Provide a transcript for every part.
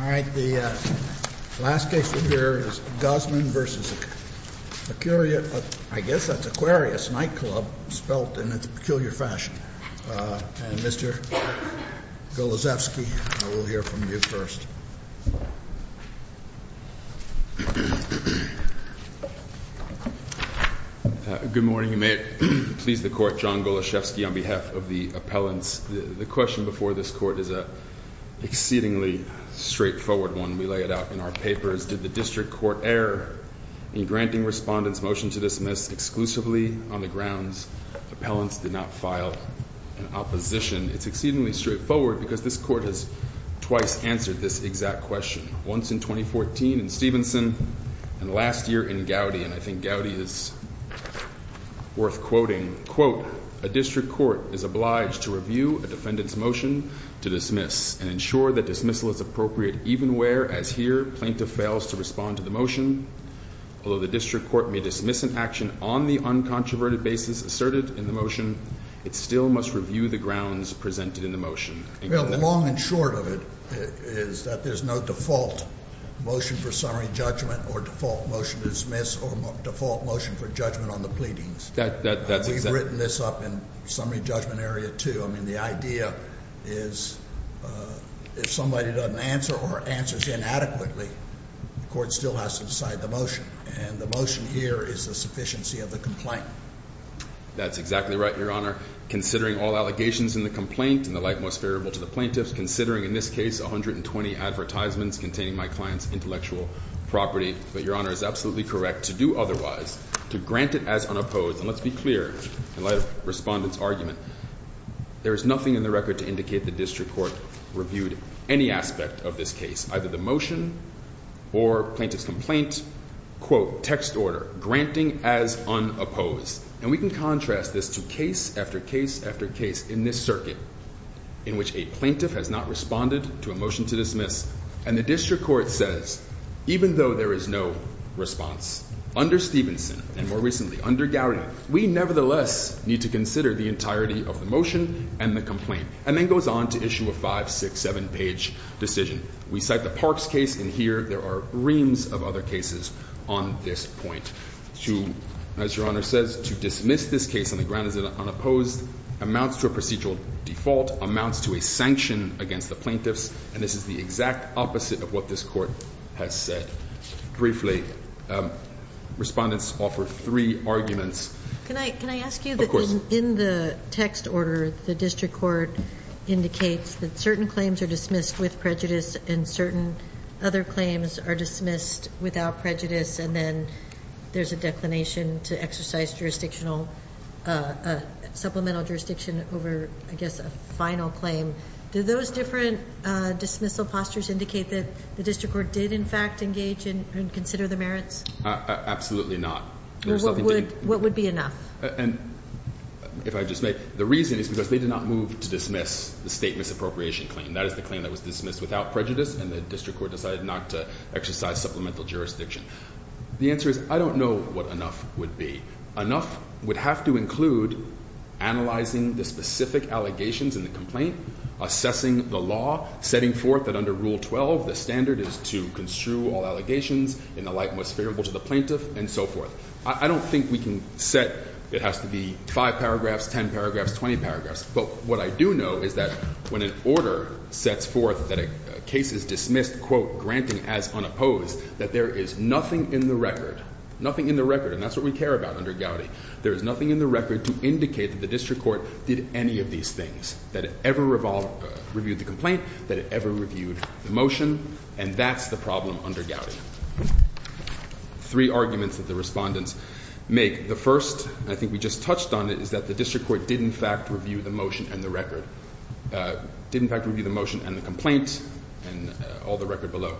All right, the last case we'll hear is Guzman v. Acuarius Night Club, spelt in a peculiar fashion. And Mr. Goloszewski, I will hear from you first. Good morning, and may it please the Court, John Goloszewski on behalf of the appellants. The question before this Court is an exceedingly straightforward one. We lay it out in our papers. Did the district court err in granting respondents' motion to dismiss exclusively on the grounds appellants did not file an opposition? It's exceedingly straightforward because this Court has twice answered this exact question, once in 2014 in Stevenson and last year in Gowdy. And I think Gowdy is worth quoting. Quote, a district court is obliged to review a defendant's motion to dismiss and ensure that dismissal is appropriate even where, as here, plaintiff fails to respond to the motion. Although the district court may dismiss an action on the uncontroverted basis asserted in the motion, it still must review the grounds presented in the motion. Well, the long and short of it is that there's no default motion for summary judgment or default motion to dismiss or default motion for judgment on the pleadings. We've written this up in summary judgment area, too. I mean, the idea is if somebody doesn't answer or answers inadequately, the court still has to decide the motion. And the motion here is the sufficiency of the complaint. That's exactly right, Your Honor. Considering all allegations in the complaint and the like most favorable to the plaintiffs, considering in this case 120 advertisements containing my client's intellectual property, but Your Honor is absolutely correct to do otherwise, to grant it as unopposed. And let's be clear, in light of Respondent's argument, there is nothing in the record to indicate the district court reviewed any aspect of this case, either the motion or plaintiff's complaint. Quote, text order, granting as unopposed. And we can contrast this to case after case after case in this circuit in which a plaintiff has not responded to a motion to dismiss. And the district court says, even though there is no response under Stevenson and more recently under Gowdy, we nevertheless need to consider the entirety of the motion and the complaint. And then goes on to issue a five, six, seven page decision. We cite the Parks case in here. There are reams of other cases on this point. As Your Honor says, to dismiss this case on the ground as unopposed amounts to a procedural default, amounts to a sanction against the plaintiffs. And this is the exact opposite of what this court has said. Briefly, Respondents offer three arguments. Can I ask you, in the text order, the district court indicates that certain claims are dismissed with prejudice and certain other claims are dismissed without prejudice. And then there's a declination to exercise jurisdictional, supplemental jurisdiction over, I guess, a final claim. Do those different dismissal postures indicate that the district court did, in fact, engage and consider the merits? Absolutely not. What would be enough? And if I just may, the reason is because they did not move to dismiss the state misappropriation claim. That is the claim that was dismissed without prejudice and the district court decided not to exercise supplemental jurisdiction. The answer is I don't know what enough would be. Enough would have to include analyzing the specific allegations in the complaint, assessing the law, setting forth that under Rule 12 the standard is to construe all allegations in the light most favorable to the plaintiff and so forth. I don't think we can set it has to be 5 paragraphs, 10 paragraphs, 20 paragraphs. But what I do know is that when an order sets forth that a case is dismissed, quote, granting as unopposed, that there is nothing in the record, nothing in the record. And that's what we care about under Gowdy. There is nothing in the record to indicate that the district court did any of these things, that it ever reviewed the complaint, that it ever reviewed the motion. And that's the problem under Gowdy. Three arguments that the respondents make. The first, I think we just touched on it, is that the district court did in fact review the motion and the record. Did in fact review the motion and the complaint and all the record below.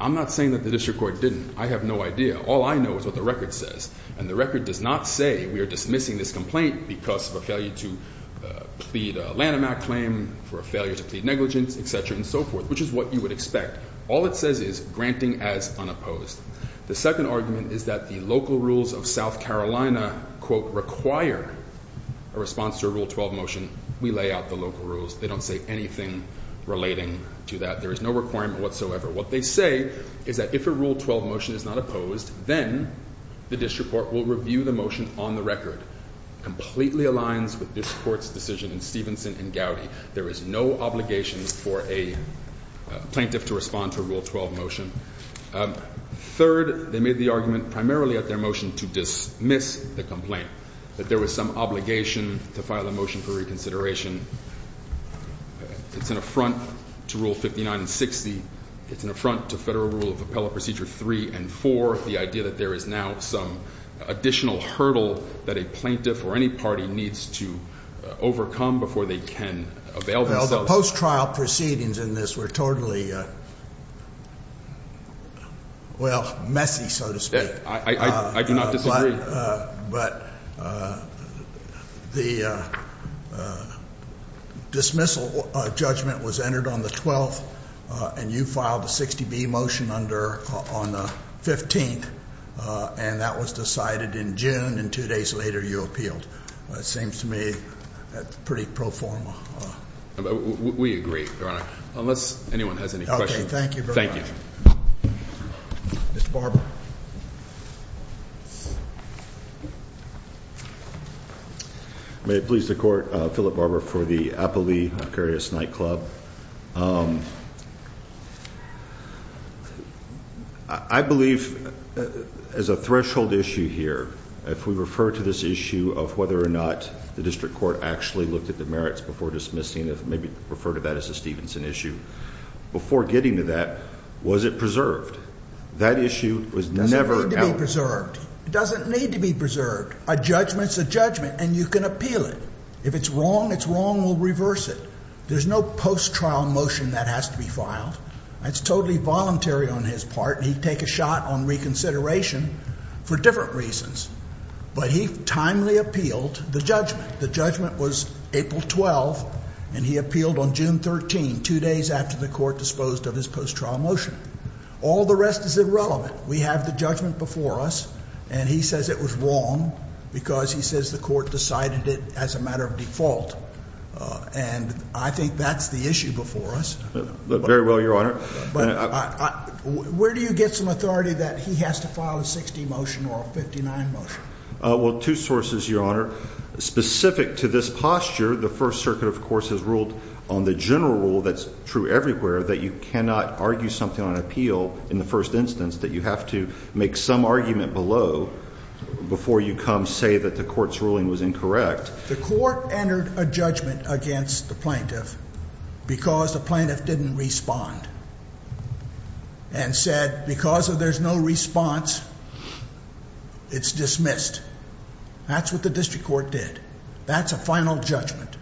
I'm not saying that the district court didn't. I have no idea. All I know is what the record says. And the record does not say we are dismissing this complaint because of a failure to plead a Lanham Act claim, for a failure to plead negligence, et cetera, and so forth, which is what you would expect. All it says is granting as unopposed. The second argument is that the local rules of South Carolina, quote, require a response to a Rule 12 motion. We lay out the local rules. They don't say anything relating to that. There is no requirement whatsoever. What they say is that if a Rule 12 motion is not opposed, then the district court will review the motion on the record. Completely aligns with district court's decision in Stevenson and Gowdy. There is no obligation for a plaintiff to respond to a Rule 12 motion. Third, they made the argument primarily at their motion to dismiss the complaint, that there was some obligation to file a motion for reconsideration. It's an affront to Rule 59 and 60. It's an affront to Federal Rule of Appellate Procedure 3 and 4. The idea that there is now some additional hurdle that a plaintiff or any party needs to overcome before they can avail themselves. Well, the post-trial proceedings in this were totally, well, messy, so to speak. I do not disagree. But the dismissal judgment was entered on the 12th, and you filed a 60B motion on the 15th, and that was decided in June, and two days later you appealed. It seems to me pretty pro forma. We agree, Your Honor. Unless anyone has any questions. Okay, thank you very much. Thank you. Mr. Barber. May it please the Court, Philip Barber for the Appellee Vicarious Nightclub. I believe as a threshold issue here, if we refer to this issue of whether or not the district court actually looked at the merits before dismissing, maybe refer to that as a Stevenson issue, before getting to that, was it preserved? That issue was never out. It doesn't need to be preserved. It doesn't need to be preserved. A judgment is a judgment, and you can appeal it. If it's wrong, it's wrong. We'll reverse it. There's no post-trial motion that has to be filed. That's totally voluntary on his part, and he'd take a shot on reconsideration for different reasons. But he timely appealed the judgment. The judgment was April 12th, and he appealed on June 13th, two days after the Court disposed of his post-trial motion. All the rest is irrelevant. We have the judgment before us, and he says it was wrong because he says the Court decided it as a matter of default. And I think that's the issue before us. Very well, Your Honor. But where do you get some authority that he has to file a 60 motion or a 59 motion? Well, two sources, Your Honor. Specific to this posture, the First Circuit, of course, has ruled on the general rule that's true everywhere, that you cannot argue something on appeal in the first instance, that you have to make some argument below before you come say that the Court's ruling was incorrect. The Court entered a judgment against the plaintiff because the plaintiff didn't respond and said because if there's no response, it's dismissed. That's what the district court did. That's a final judgment.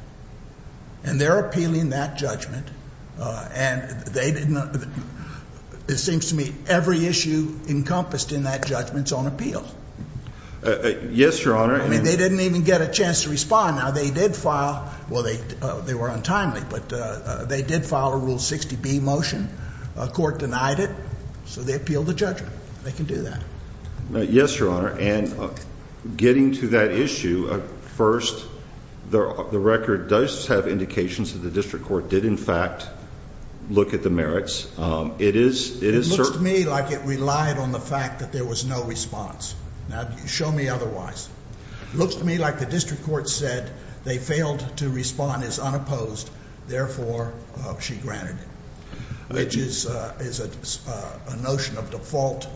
And they're appealing that judgment, and it seems to me every issue encompassed in that judgment is on appeal. Yes, Your Honor. I mean, they didn't even get a chance to respond. Now, they did file – well, they were untimely, but they did file a Rule 60B motion. The Court denied it, so they appealed the judgment. They can do that. Yes, Your Honor. And getting to that issue, first, the record does have indications that the district court did, in fact, look at the merits. It is certain. It looks to me like it relied on the fact that there was no response. Now, show me otherwise. It looks to me like the district court said they failed to respond as unopposed, therefore she granted it, which is a notion of default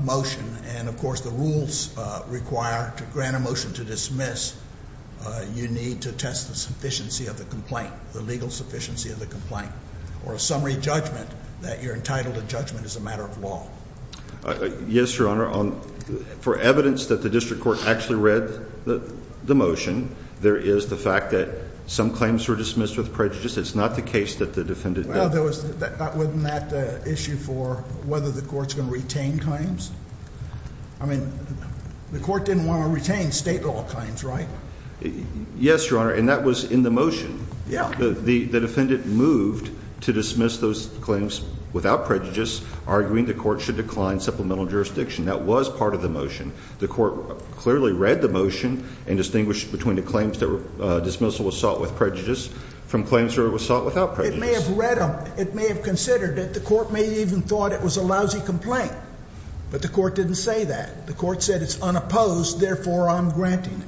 motion. And, of course, the rules require to grant a motion to dismiss, you need to test the sufficiency of the complaint, the legal sufficiency of the complaint, or a summary judgment that you're entitled to judgment as a matter of law. Yes, Your Honor. For evidence that the district court actually read the motion, there is the fact that some claims were dismissed with prejudice. It's not the case that the defendant did. Well, wasn't that the issue for whether the court's going to retain claims? I mean, the court didn't want to retain state law claims, right? Yes, Your Honor, and that was in the motion. Yeah. The defendant moved to dismiss those claims without prejudice, arguing the court should decline supplemental jurisdiction. That was part of the motion. The court clearly read the motion and distinguished between the claims that were dismissal assault with prejudice from claims that were assault without prejudice. It may have read them. It may have considered it. The court may have even thought it was a lousy complaint, but the court didn't say that. The court said it's unopposed, therefore I'm granting it.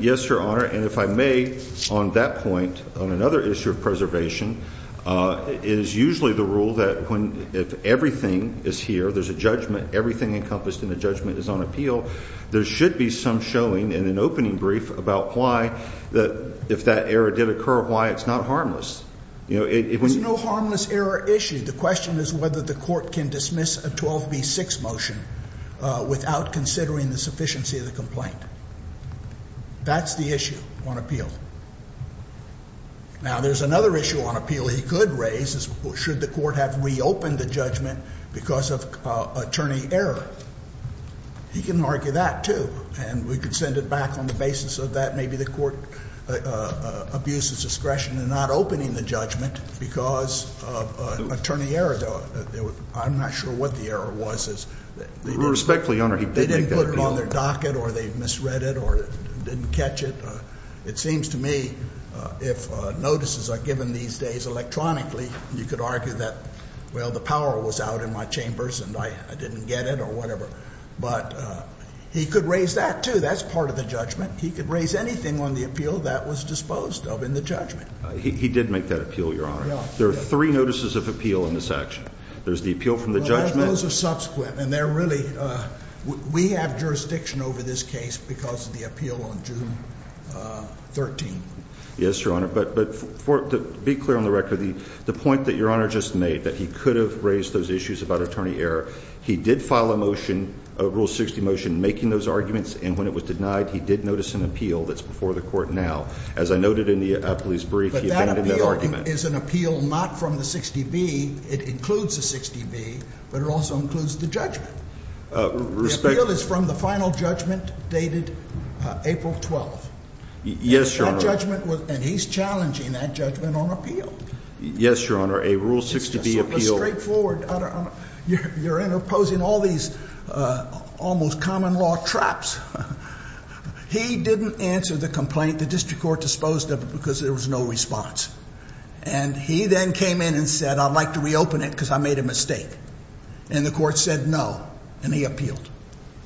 Yes, Your Honor, and if I may, on that point, on another issue of preservation, it is usually the rule that if everything is here, there's a judgment, everything encompassed in the judgment is on appeal, there should be some showing in an opening brief about why, if that error did occur, why it's not harmless. There's no harmless error issue. The question is whether the court can dismiss a 12B6 motion without considering the sufficiency of the complaint. That's the issue on appeal. Now, there's another issue on appeal he could raise is should the court have reopened the judgment because of attorney error. He can argue that, too, and we could send it back on the basis of that. Maybe the court abuses discretion in not opening the judgment because of attorney error. I'm not sure what the error was. Respectfully, Your Honor, he did make that appeal. They didn't put it on their docket or they misread it or didn't catch it. It seems to me if notices are given these days electronically, you could argue that, well, the power was out in my chambers and I didn't get it or whatever. But he could raise that, too. That's part of the judgment. He could raise anything on the appeal that was disposed of in the judgment. He did make that appeal, Your Honor. There are three notices of appeal in this action. There's the appeal from the judgment. Those are subsequent, and they're really we have jurisdiction over this case because of the appeal on June 13th. Yes, Your Honor. But to be clear on the record, the point that Your Honor just made that he could have raised those issues about attorney error, he did file a motion, a Rule 60 motion, making those arguments. And when it was denied, he did notice an appeal that's before the court now. As I noted in the police brief, he abandoned that argument. The appeal is an appeal not from the 60B. It includes the 60B, but it also includes the judgment. The appeal is from the final judgment dated April 12th. Yes, Your Honor. And he's challenging that judgment on appeal. Yes, Your Honor. A Rule 60B appeal. It's so straightforward. You're imposing all these almost common law traps. He didn't answer the complaint. The district court disposed of it because there was no response. And he then came in and said, I'd like to reopen it because I made a mistake. And the court said no, and he appealed.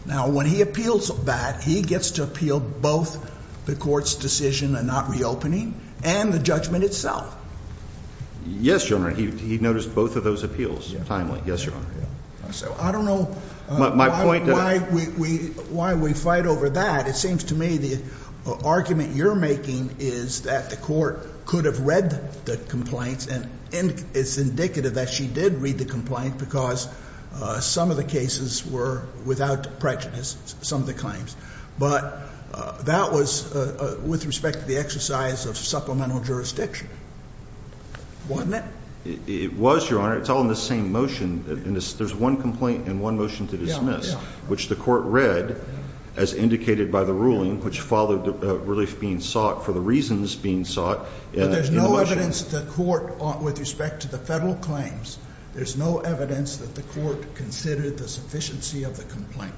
Now, when he appeals that, he gets to appeal both the court's decision on not reopening and the judgment itself. Yes, Your Honor. He noticed both of those appeals timely. Yes, Your Honor. So I don't know why we fight over that. It seems to me the argument you're making is that the court could have read the complaint. And it's indicative that she did read the complaint because some of the cases were without prejudice, some of the claims. But that was with respect to the exercise of supplemental jurisdiction, wasn't it? It was, Your Honor. It's all in the same motion. There's one complaint and one motion to dismiss, which the court read, as indicated by the ruling, which followed relief being sought for the reasons being sought in the motion. But there's no evidence that the court, with respect to the federal claims, there's no evidence that the court considered the sufficiency of the complaint,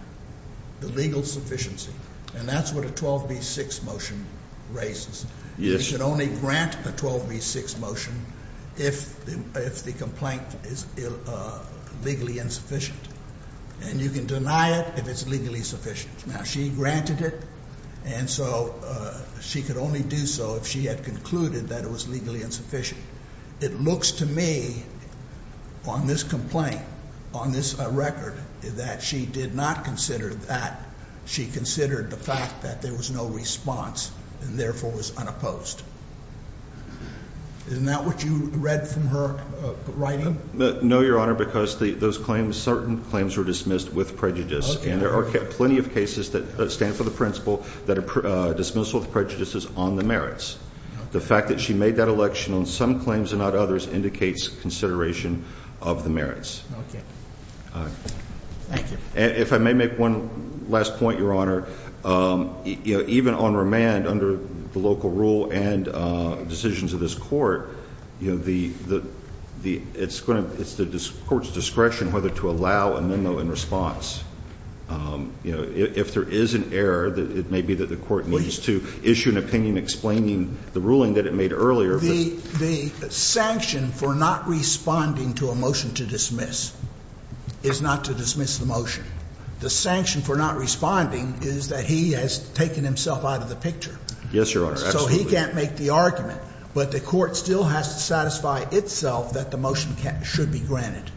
the legal sufficiency. And that's what a 12B6 motion raises. Yes. You can only grant a 12B6 motion if the complaint is legally insufficient. And you can deny it if it's legally insufficient. Now, she granted it, and so she could only do so if she had concluded that it was legally insufficient. It looks to me on this complaint, on this record, that she did not consider that. She considered the fact that there was no response and, therefore, was unopposed. Isn't that what you read from her writing? No, Your Honor, because those claims, certain claims were dismissed with prejudice. And there are plenty of cases that stand for the principle that a dismissal of prejudice is on the merits. The fact that she made that election on some claims and not others indicates consideration of the merits. Okay. All right. Thank you. If I may make one last point, Your Honor, even on remand under the local rule and decisions of this court, it's the court's discretion whether to allow a memo in response. You know, if there is an error, it may be that the court needs to issue an opinion explaining the ruling that it made earlier. The sanction for not responding to a motion to dismiss is not to dismiss the motion. The sanction for not responding is that he has taken himself out of the picture. Yes, Your Honor, absolutely. So he can't make the argument. But the court still has to satisfy itself that the motion should be granted.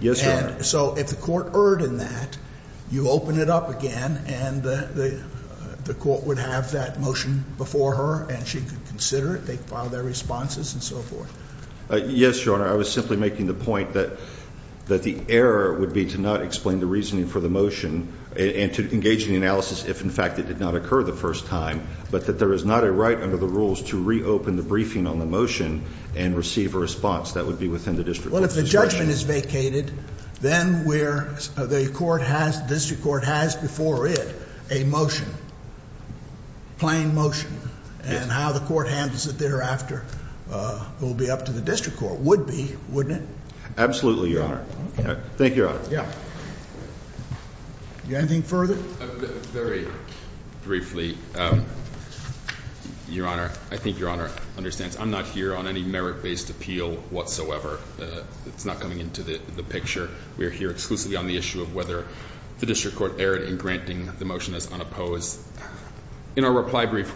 Yes, Your Honor. So if the court erred in that, you open it up again, and the court would have that motion before her, and she could consider it. They could file their responses and so forth. Yes, Your Honor. I was simply making the point that the error would be to not explain the reasoning for the motion and to engage in the analysis if, in fact, it did not occur the first time, but that there is not a right under the rules to reopen the briefing on the motion and receive a response. That would be within the district court's discretion. Well, if the judgment is vacated, then the district court has before it a motion, plain motion, and how the court handles it thereafter will be up to the district court, would be, wouldn't it? Absolutely, Your Honor. Thank you, Your Honor. Yeah. Anything further? Very briefly, Your Honor, I think Your Honor understands I'm not here on any merit-based appeal whatsoever. It's not coming into the picture. We are here exclusively on the issue of whether the district court erred in granting the motion as unopposed. In our reply brief,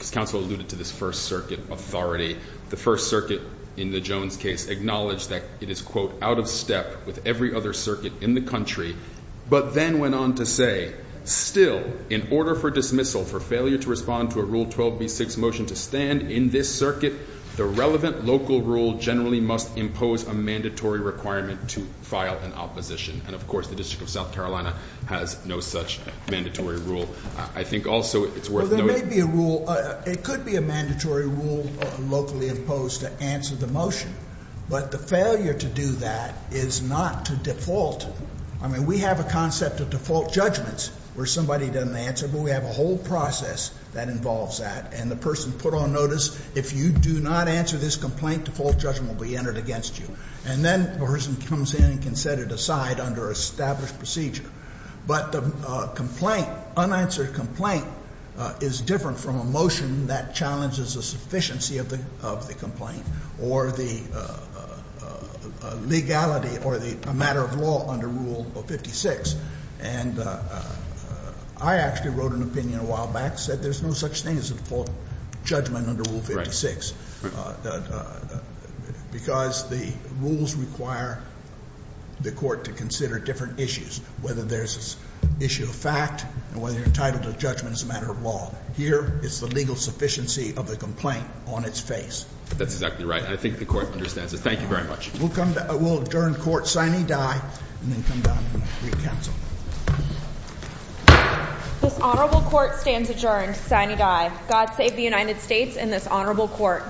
as counsel alluded to this First Circuit authority, the First Circuit in the Jones case acknowledged that it is, quote, out of step with every other circuit in the country, but then went on to say, still, in order for dismissal for failure to respond to a Rule 12b6 motion to stand in this circuit, the relevant local rule generally must impose a mandatory requirement to file an opposition. And, of course, the District of South Carolina has no such mandatory rule. I think also it's worth noting. Well, there may be a rule. Well, it could be a mandatory rule locally imposed to answer the motion. But the failure to do that is not to default. I mean, we have a concept of default judgments where somebody doesn't answer, but we have a whole process that involves that. And the person put on notice, if you do not answer this complaint, default judgment will be entered against you. And then the person comes in and can set it aside under established procedure. But the complaint, unanswered complaint, is different from a motion that challenges the sufficiency of the complaint or the legality or the matter of law under Rule 56. And I actually wrote an opinion a while back, said there's no such thing as a default judgment under Rule 56. Right. Because the rules require the court to consider different issues, whether there's an issue of fact and whether you're entitled to a judgment as a matter of law. Here, it's the legal sufficiency of the complaint on its face. That's exactly right. And I think the court understands it. Thank you very much. We'll adjourn court. Signe Dye. And then come down and re-counsel. This honorable court stands adjourned. Signe Dye. God save the United States and this honorable court.